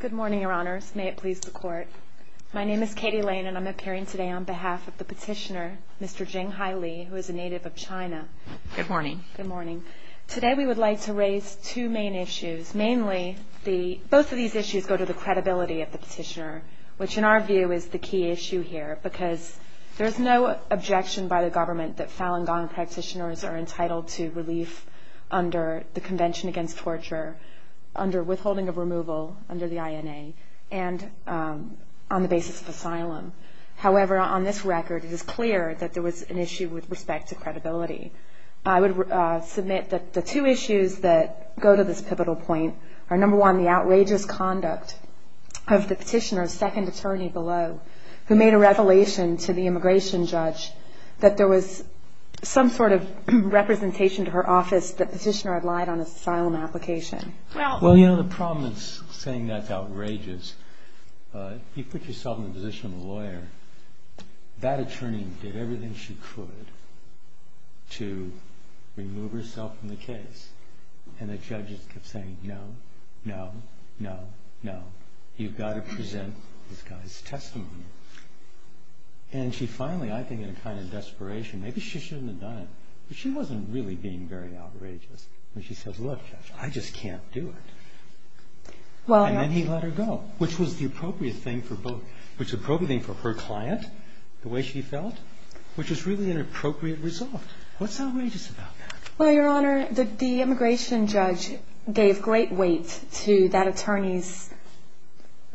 Good morning, Your Honors. May it please the Court. My name is Katie Lane, and I'm appearing today on behalf of the petitioner, Mr. Jing Hai Li, who is a native of China. Good morning. Good morning. Today we would like to raise two main issues. Mainly, both of these issues go to the credibility of the petitioner, which in our view is the key issue here, because there's no objection by the government that Falun Gong practitioners are entitled to relief under the Convention Against Torture, under withholding of removal under the INA, and on the basis of asylum. However, on this record, it is clear that there was an issue with respect to credibility. I would submit that the two issues that go to this pivotal point are, number one, the outrageous conduct of the petitioner's second attorney below, who made a revelation to the immigration judge that there was some sort of representation to her office that the petitioner had lied on his asylum application. Well, you know, the problem with saying that's outrageous, if you put yourself in the position of a lawyer, that attorney did everything she could to remove herself from the case, and the judges kept saying, no, no, no, no, you've got to present this guy's testimony. And she finally, I think in a kind of desperation, maybe she shouldn't have done it, but she wasn't really being very outrageous when she says, look, I just can't do it. And then he let her go, which was the appropriate thing for her client, the way she felt, which is really an appropriate result. What's outrageous about that? Well, Your Honor, the immigration judge gave great weight to that attorney's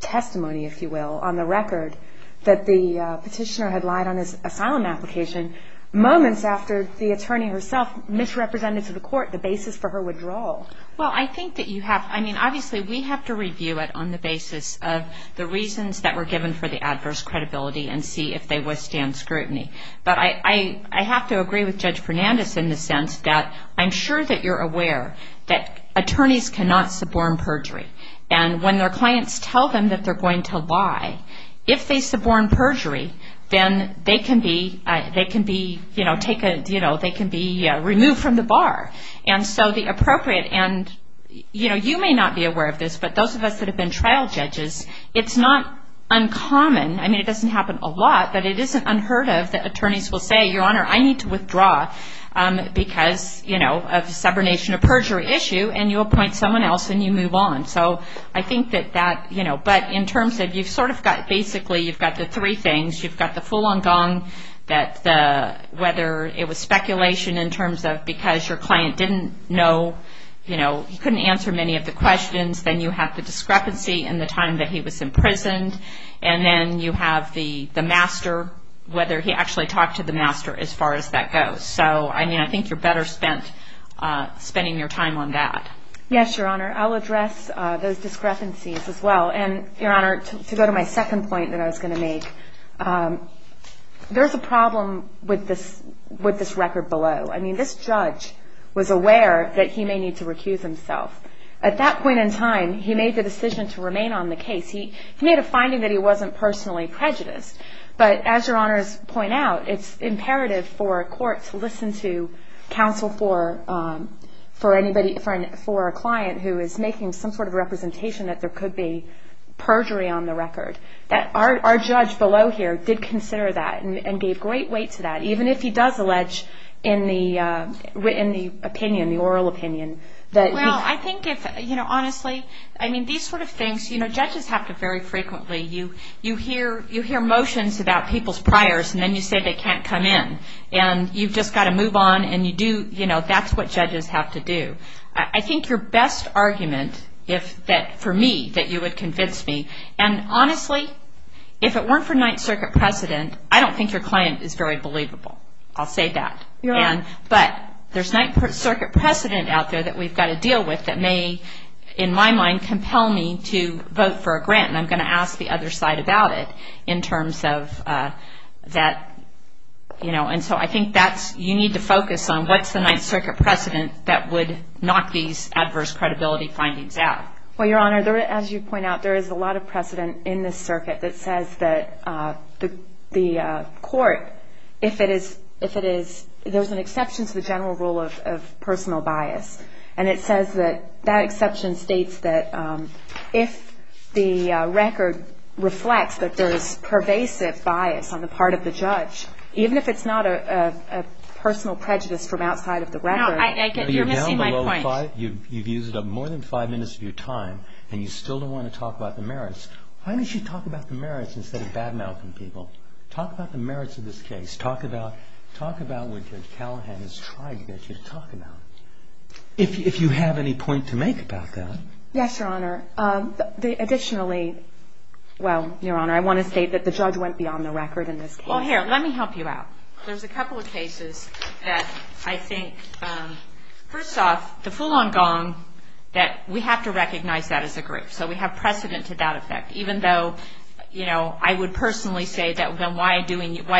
testimony, if you will, on the record that the petitioner had lied on his asylum application moments after the attorney herself misrepresented to the court the basis for her withdrawal. Well, I think that you have, I mean, obviously we have to review it on the basis of the reasons that were given for the adverse credibility and see if they withstand scrutiny. But I have to agree with Judge Fernandez in the sense that I'm sure that you're aware that attorneys cannot suborn perjury. And when their clients tell them that they're going to lie, if they suborn perjury, then they can be removed from the bar. And so the appropriate, and you may not be aware of this, but those of us that have been trial judges, it's not uncommon, I mean, it doesn't happen a lot, but it isn't unheard of that attorneys will say, Your Honor, I need to withdraw because of subornation or perjury issue. And you appoint someone else and you move on. So I think that that, you know, but in terms of you've sort of got basically you've got the three things. You've got the full on gong, whether it was speculation in terms of because your client didn't know, you know, he couldn't answer many of the questions. Then you have the discrepancy in the time that he was imprisoned. And then you have the master, whether he actually talked to the master as far as that goes. So, I mean, I think you're better spent spending your time on that. Yes, Your Honor. I'll address those discrepancies as well. And Your Honor, to go to my second point that I was going to make, there's a problem with this record below. I mean, this judge was aware that he may need to recuse himself. At that point in time, he made the decision to remain on the case. He made a finding that he wasn't personally prejudiced. But as Your Honors point out, it's imperative for a court to listen to counsel for anybody, for a client who is making some sort of representation that there could be perjury on the record. That our judge below here did consider that and gave great weight to that, even if he does allege in the opinion, the oral opinion. Well, I think if, you know, honestly, I mean, these sort of things, you know, judges have to very frequently, you hear motions about people's priors and then you say they can't come in. And you've just got to move on and you do, you know, that's what judges have to do. I think your best argument, for me, that you would convince me, and honestly, if it weren't for Ninth Circuit precedent, I don't think your client is very believable. I'll say that. Your Honor. But there's Ninth Circuit precedent out there that we've got to deal with that may, in my mind, compel me to vote for a grant. And I'm going to ask the other side about it in terms of that, you know. And so I think that's, you need to focus on what's the Ninth Circuit precedent that would knock these adverse credibility findings out. Well, Your Honor, as you point out, there is a lot of precedent in this circuit that says that the court, if it is, there's an exception to the general rule of personal bias. And it says that that exception states that if the record reflects that there's pervasive bias on the part of the judge, even if it's not a personal prejudice from outside of the record. You're missing my point. You've used up more than five minutes of your time, and you still don't want to talk about the merits. Why don't you talk about the merits instead of bad-mouthing people? Talk about the merits of this case. Talk about what Judge Callahan is trying to get you to talk about. If you have any point to make about that. Yes, Your Honor. Additionally, well, Your Honor, I want to state that the judge went beyond the record in this case. Well, here, let me help you out. There's a couple of cases that I think, first off, the full-on gong, that we have to recognize that as a group. So we have precedent to that effect, even though, you know, I would personally say that, well, why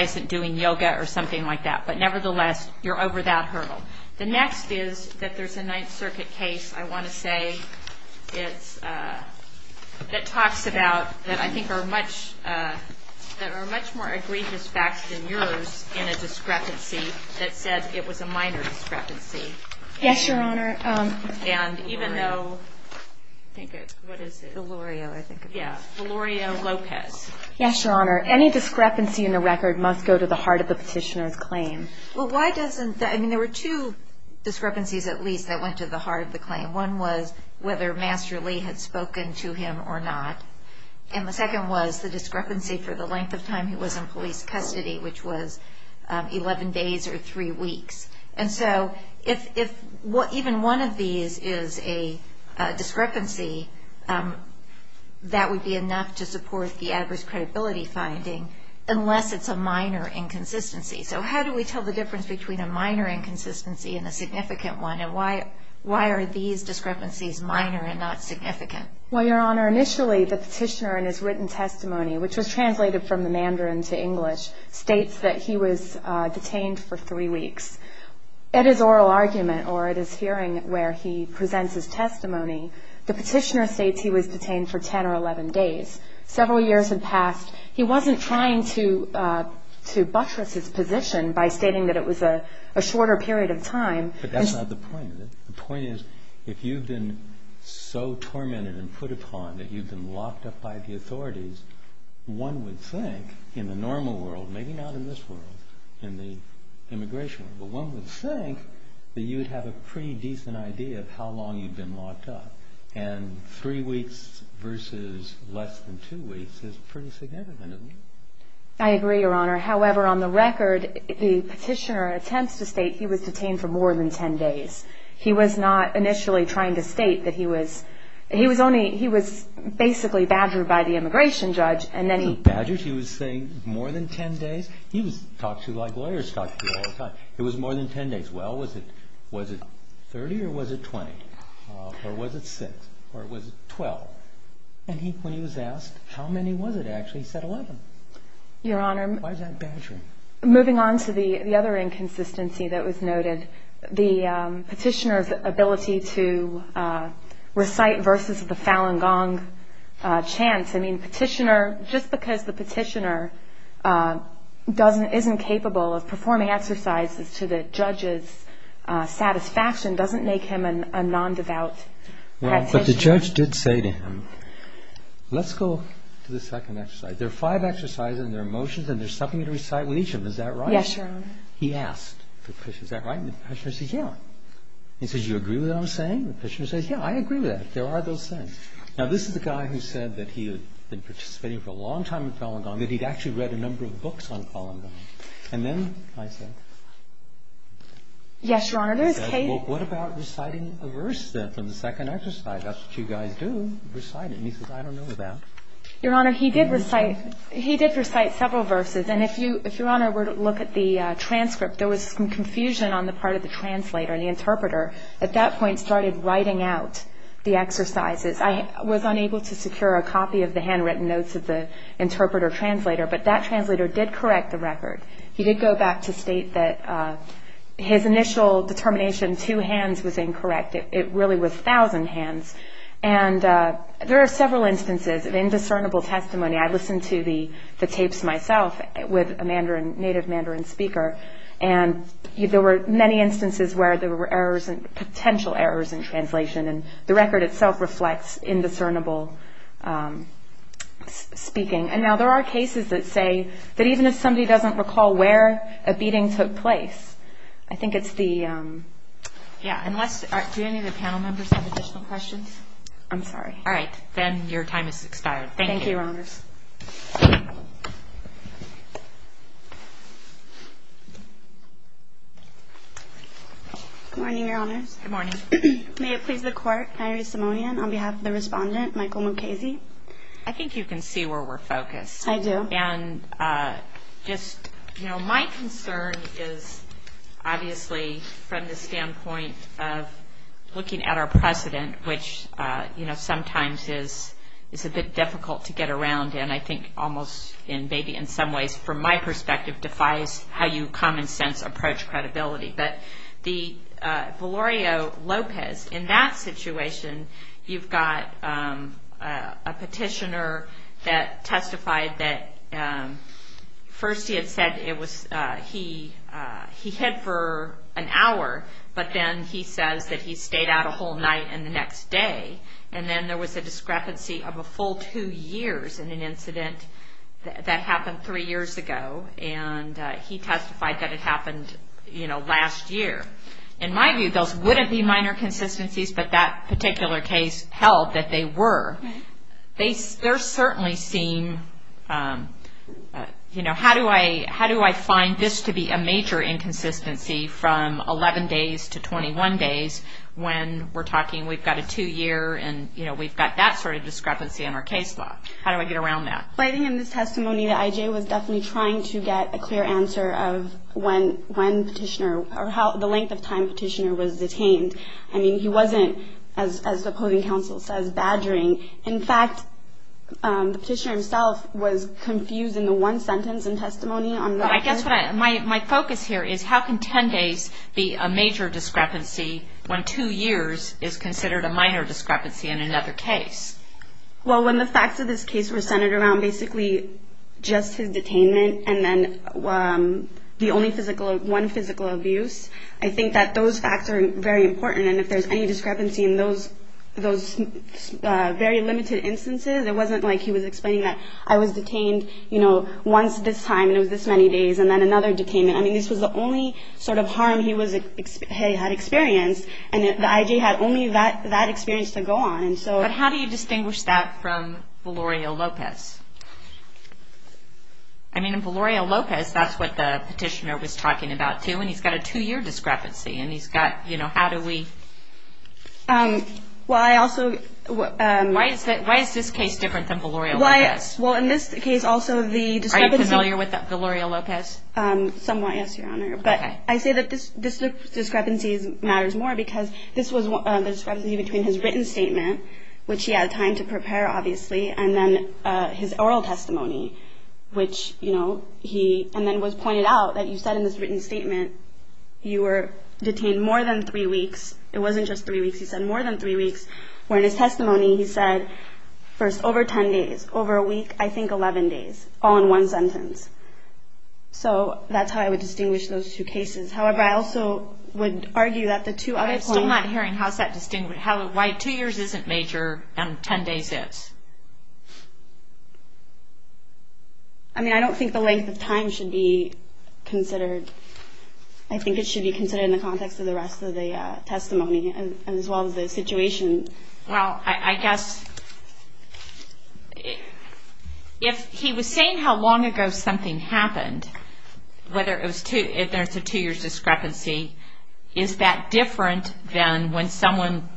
isn't doing yoga or something like that? But nevertheless, you're over that hurdle. The next is that there's a Ninth Circuit case, I want to say, that talks about, that I think are much more egregious facts than yours, in a discrepancy that said it was a minor discrepancy. Yes, Your Honor. And even though, think of, what is it? Delorio, I think it was. Yeah, Delorio Lopez. Yes, Your Honor. Any discrepancy in the record must go to the heart of the petitioner's claim. Well, why doesn't, I mean, there were two discrepancies, at least, that went to the heart of the claim. One was whether Master Lee had spoken to him or not. And the second was the discrepancy for the length of time he was in police custody, which was 11 days or three weeks. And so if even one of these is a discrepancy, that would be enough to support the adverse credibility finding, unless it's a minor inconsistency. So how do we tell the difference between a minor inconsistency and a significant one? And why are these discrepancies minor and not significant? Well, Your Honor, initially, the petitioner in his written testimony, which was translated from the Mandarin to English, states that he was detained for three weeks. At his oral argument, or at his hearing where he presents his testimony, the petitioner states he was detained for 10 or 11 days. Several years had passed. He wasn't trying to buttress his position by stating that it was a shorter period of time. But that's not the point of it. The point is, if you've been so tormented and put upon that you've been locked up by the authorities, one would think, in the normal world, maybe not in this world, in the immigration world, but one would think that you'd have a pretty decent idea of how long you'd been locked up. And three weeks versus less than two weeks is pretty significant, isn't it? I agree, Your Honor. However, on the record, the petitioner attempts to state he was detained for more than 10 days. He was not initially trying to state that he was – he was only – he was basically badgered by the immigration judge, and then he – He wasn't badgered. He was saying more than 10 days. He talks to you like lawyers talk to you all the time. It was more than 10 days. Well, was it – was it 30 or was it 20, or was it 6, or was it 12? And he – when he was asked how many was it actually, he said 11. Your Honor. Why is that badgering? Moving on to the other inconsistency that was noted, the petitioner's ability to recite verses of the Falun Gong chants. I mean, petitioner – just because the petitioner doesn't – isn't capable of performing exercises to the judge's satisfaction doesn't make him a non-devout petitioner. But the judge did say to him, let's go to the second exercise. There are five exercises, and there are motions, and there's something to recite with each of them. Is that right? Yes, Your Honor. He asked the petitioner, is that right? And the petitioner says, yeah. He says, do you agree with what I'm saying? The petitioner says, yeah, I agree with that. There are those things. Now, this is the guy who said that he had been participating for a long time in Falun Gong, that he'd actually read a number of books on Falun Gong. And then I said – Yes, Your Honor. He said, well, what about reciting a verse then from the second exercise? That's what you guys do, reciting. And he says, I don't know about that. Your Honor, he did recite – he did recite several verses. And if you – if, Your Honor, were to look at the transcript, there was some confusion on the part of the translator, the interpreter. At that point, started writing out the exercises. I was unable to secure a copy of the handwritten notes of the interpreter translator. But that translator did correct the record. He did go back to state that his initial determination, two hands, was incorrect. It really was 1,000 hands. And there are several instances of indiscernible testimony. I listened to the tapes myself with a native Mandarin speaker. And there were many instances where there were errors, potential errors in translation. And the record itself reflects indiscernible speaking. And now there are cases that say that even if somebody doesn't recall where a beating took place, I think it's the – Yeah, unless – do any of the panel members have additional questions? I'm sorry. All right. Then your time has expired. Thank you. Thank you, Your Honors. Good morning, Your Honors. Good morning. May it please the Court, I raise a memorandum on behalf of the respondent, Michael Mukasey. I think you can see where we're focused. I do. And just, you know, my concern is obviously from the standpoint of looking at our precedent, which, you know, sometimes is a bit difficult to get around. And I think almost maybe in some ways from my perspective defies how you common sense approach credibility. But Valerio Lopez, in that situation, you've got a petitioner that testified that first he had said it was – he hid for an hour, but then he says that he stayed out a whole night and the next day. And then there was a discrepancy of a full two years in an incident that happened three years ago. And he testified that it happened, you know, last year. In my view, those wouldn't be minor consistencies, but that particular case held that they were. They certainly seem, you know, how do I find this to be a major inconsistency from 11 days to 21 days when we're talking we've got a two-year and, you know, we've got that sort of discrepancy in our case law? How do I get around that? Well, I think in this testimony that I.J. was definitely trying to get a clear answer of when petitioner – or how the length of time petitioner was detained. I mean, he wasn't, as the opposing counsel says, badgering. In fact, the petitioner himself was confused in the one sentence in testimony on the record. But I guess what I – my focus here is how can 10 days be a major discrepancy when two years is considered a minor discrepancy in another case? Well, when the facts of this case were centered around basically just his detainment and then the only physical – one physical abuse, I think that those facts are very important. And if there's any discrepancy in those very limited instances, it wasn't like he was explaining that I was detained, you know, once this time, and it was this many days, and then another detainment. I mean, this was the only sort of harm he had experienced. And the I.J. had only that experience to go on. But how do you distinguish that from Velorio Lopez? I mean, in Velorio Lopez, that's what the petitioner was talking about, too, and he's got a two-year discrepancy, and he's got – you know, how do we – Well, I also – Why is this case different than Velorio Lopez? Well, in this case, also, the discrepancy – Are you familiar with Velorio Lopez? Somewhat, yes, Your Honor. But I say that this discrepancy matters more because this was the discrepancy between his written statement, which he had time to prepare, obviously, and then his oral testimony, which, you know, he – and then it was pointed out that you said in this written statement you were detained more than three weeks. It wasn't just three weeks. He said more than three weeks, where in his testimony he said, first, over 10 days, over a week, I think 11 days, all in one sentence. So that's how I would distinguish those two cases. However, I also would argue that the two other points – I'm still not hearing how is that – why two years isn't major and 10 days is. I mean, I don't think the length of time should be considered. I think it should be considered in the context of the rest of the testimony as well as the situation. Well, I guess if he was saying how long ago something happened, whether it was two – if there's a two-year discrepancy, is that different than when someone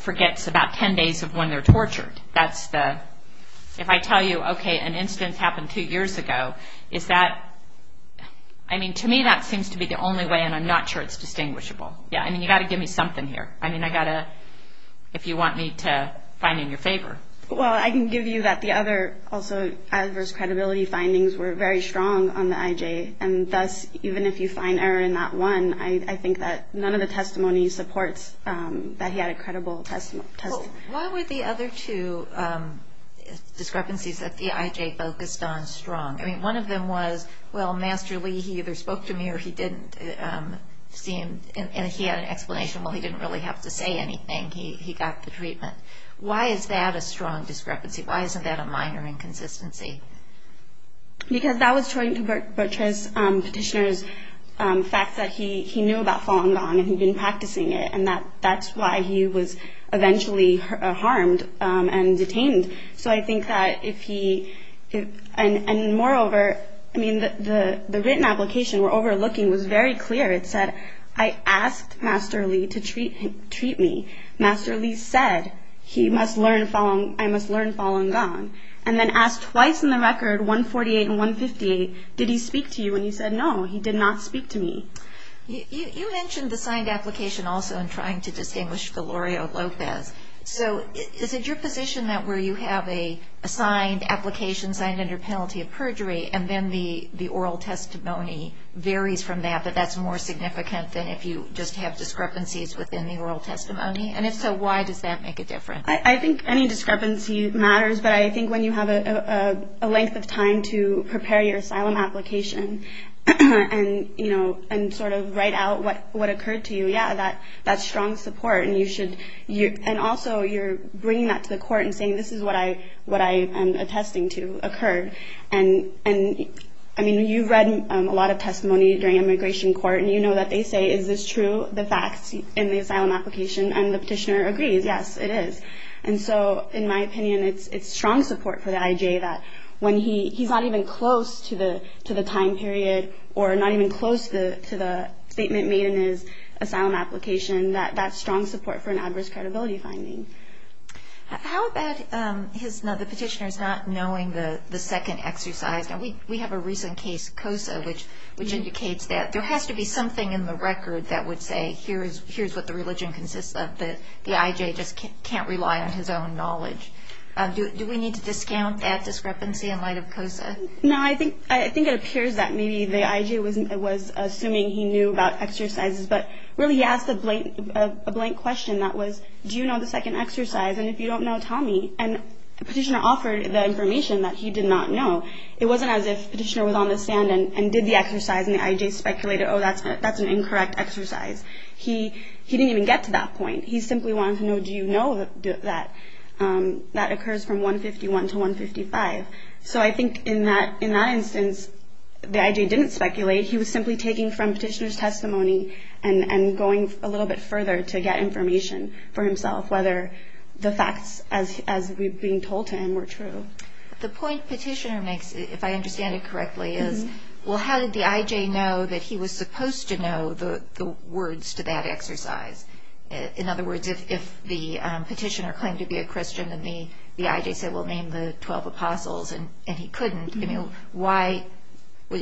forgets about 10 days of when they're tortured? That's the – if I tell you, okay, an incident happened two years ago, is that – I mean, to me, that seems to be the only way, and I'm not sure it's distinguishable. Yeah, I mean, you've got to give me something here. I mean, I've got to – if you want me to find in your favor. Well, I can give you that the other – the other two findings were very strong on the IJ, and thus, even if you find error in that one, I think that none of the testimony supports that he had a credible testimony. Well, why were the other two discrepancies that the IJ focused on strong? I mean, one of them was, well, masterly, he either spoke to me or he didn't seem – and he had an explanation, well, he didn't really have to say anything. He got the treatment. Why is that a strong discrepancy? Why isn't that a minor inconsistency? Because that was showing to Bertrand's petitioner's facts that he knew about Falun Gong and he'd been practicing it, and that's why he was eventually harmed and detained. So I think that if he – and moreover, I mean, the written application we're overlooking was very clear. It said, I asked Master Li to treat me. Master Li said, I must learn Falun Gong. And then asked twice in the record, 148 and 158, did he speak to you? And he said, no, he did not speak to me. You mentioned the signed application also in trying to distinguish Valorio Lopez. So is it your position that where you have a signed application, signed under penalty of perjury, and then the oral testimony varies from that, but that's more significant than if you just have discrepancies within the oral testimony? And if so, why does that make a difference? I think any discrepancy matters, but I think when you have a length of time to prepare your asylum application and sort of write out what occurred to you, yeah, that's strong support. And you should – and also you're bringing that to the court and saying this is what I am attesting to occurred. And, I mean, you've read a lot of testimony during immigration court, and you know that they say, is this true, the facts in the asylum application? And the petitioner agrees, yes, it is. And so, in my opinion, it's strong support for the IJ that when he's not even close to the time period or not even close to the statement made in his asylum application, that's strong support for an adverse credibility finding. How about the petitioner's not knowing the second exercise? Now, we have a recent case, COSA, which indicates that there has to be something in the record that would say here's what the religion consists of. The IJ just can't rely on his own knowledge. Do we need to discount that discrepancy in light of COSA? No, I think it appears that maybe the IJ was assuming he knew about exercises, but really he asked a blank question that was, do you know the second exercise? And if you don't know, tell me. And the petitioner offered the information that he did not know. It wasn't as if the petitioner was on the stand and did the exercise, and the IJ speculated, oh, that's an incorrect exercise. He didn't even get to that point. He simply wanted to know, do you know that that occurs from 151 to 155? So I think in that instance, the IJ didn't speculate. He was simply taking from petitioner's testimony and going a little bit further to get information for himself, whether the facts as being told to him were true. The point petitioner makes, if I understand it correctly, is, well, how did the IJ know that he was supposed to know the words to that exercise? In other words, if the petitioner claimed to be a Christian and the IJ said, well, name the 12 apostles, and he couldn't,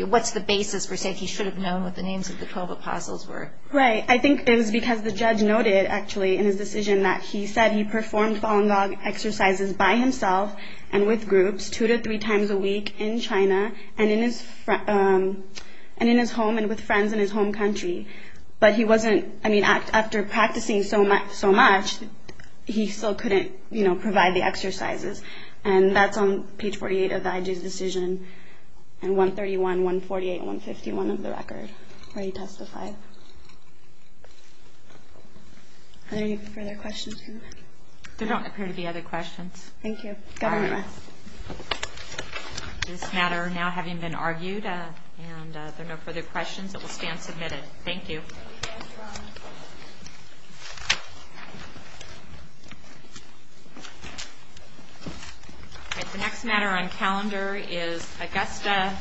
what's the basis for saying he should have known what the names of the 12 apostles were? Right, I think it was because the judge noted, actually, in his decision that he said he performed Fallen Dog exercises by himself and with groups two to three times a week in China and in his home and with friends in his home country. But he wasn't, I mean, after practicing so much, he still couldn't provide the exercises. And that's on page 48 of the IJ's decision, and 131, 148, and 151 of the record, where he testified. Are there any further questions? There don't appear to be other questions. Thank you. This matter now having been argued, and there are no further questions, it will stand submitted. Thank you. The next matter on calendar is Augusta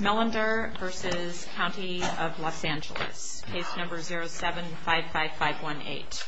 Millender v. County of Los Angeles, case number 0755518.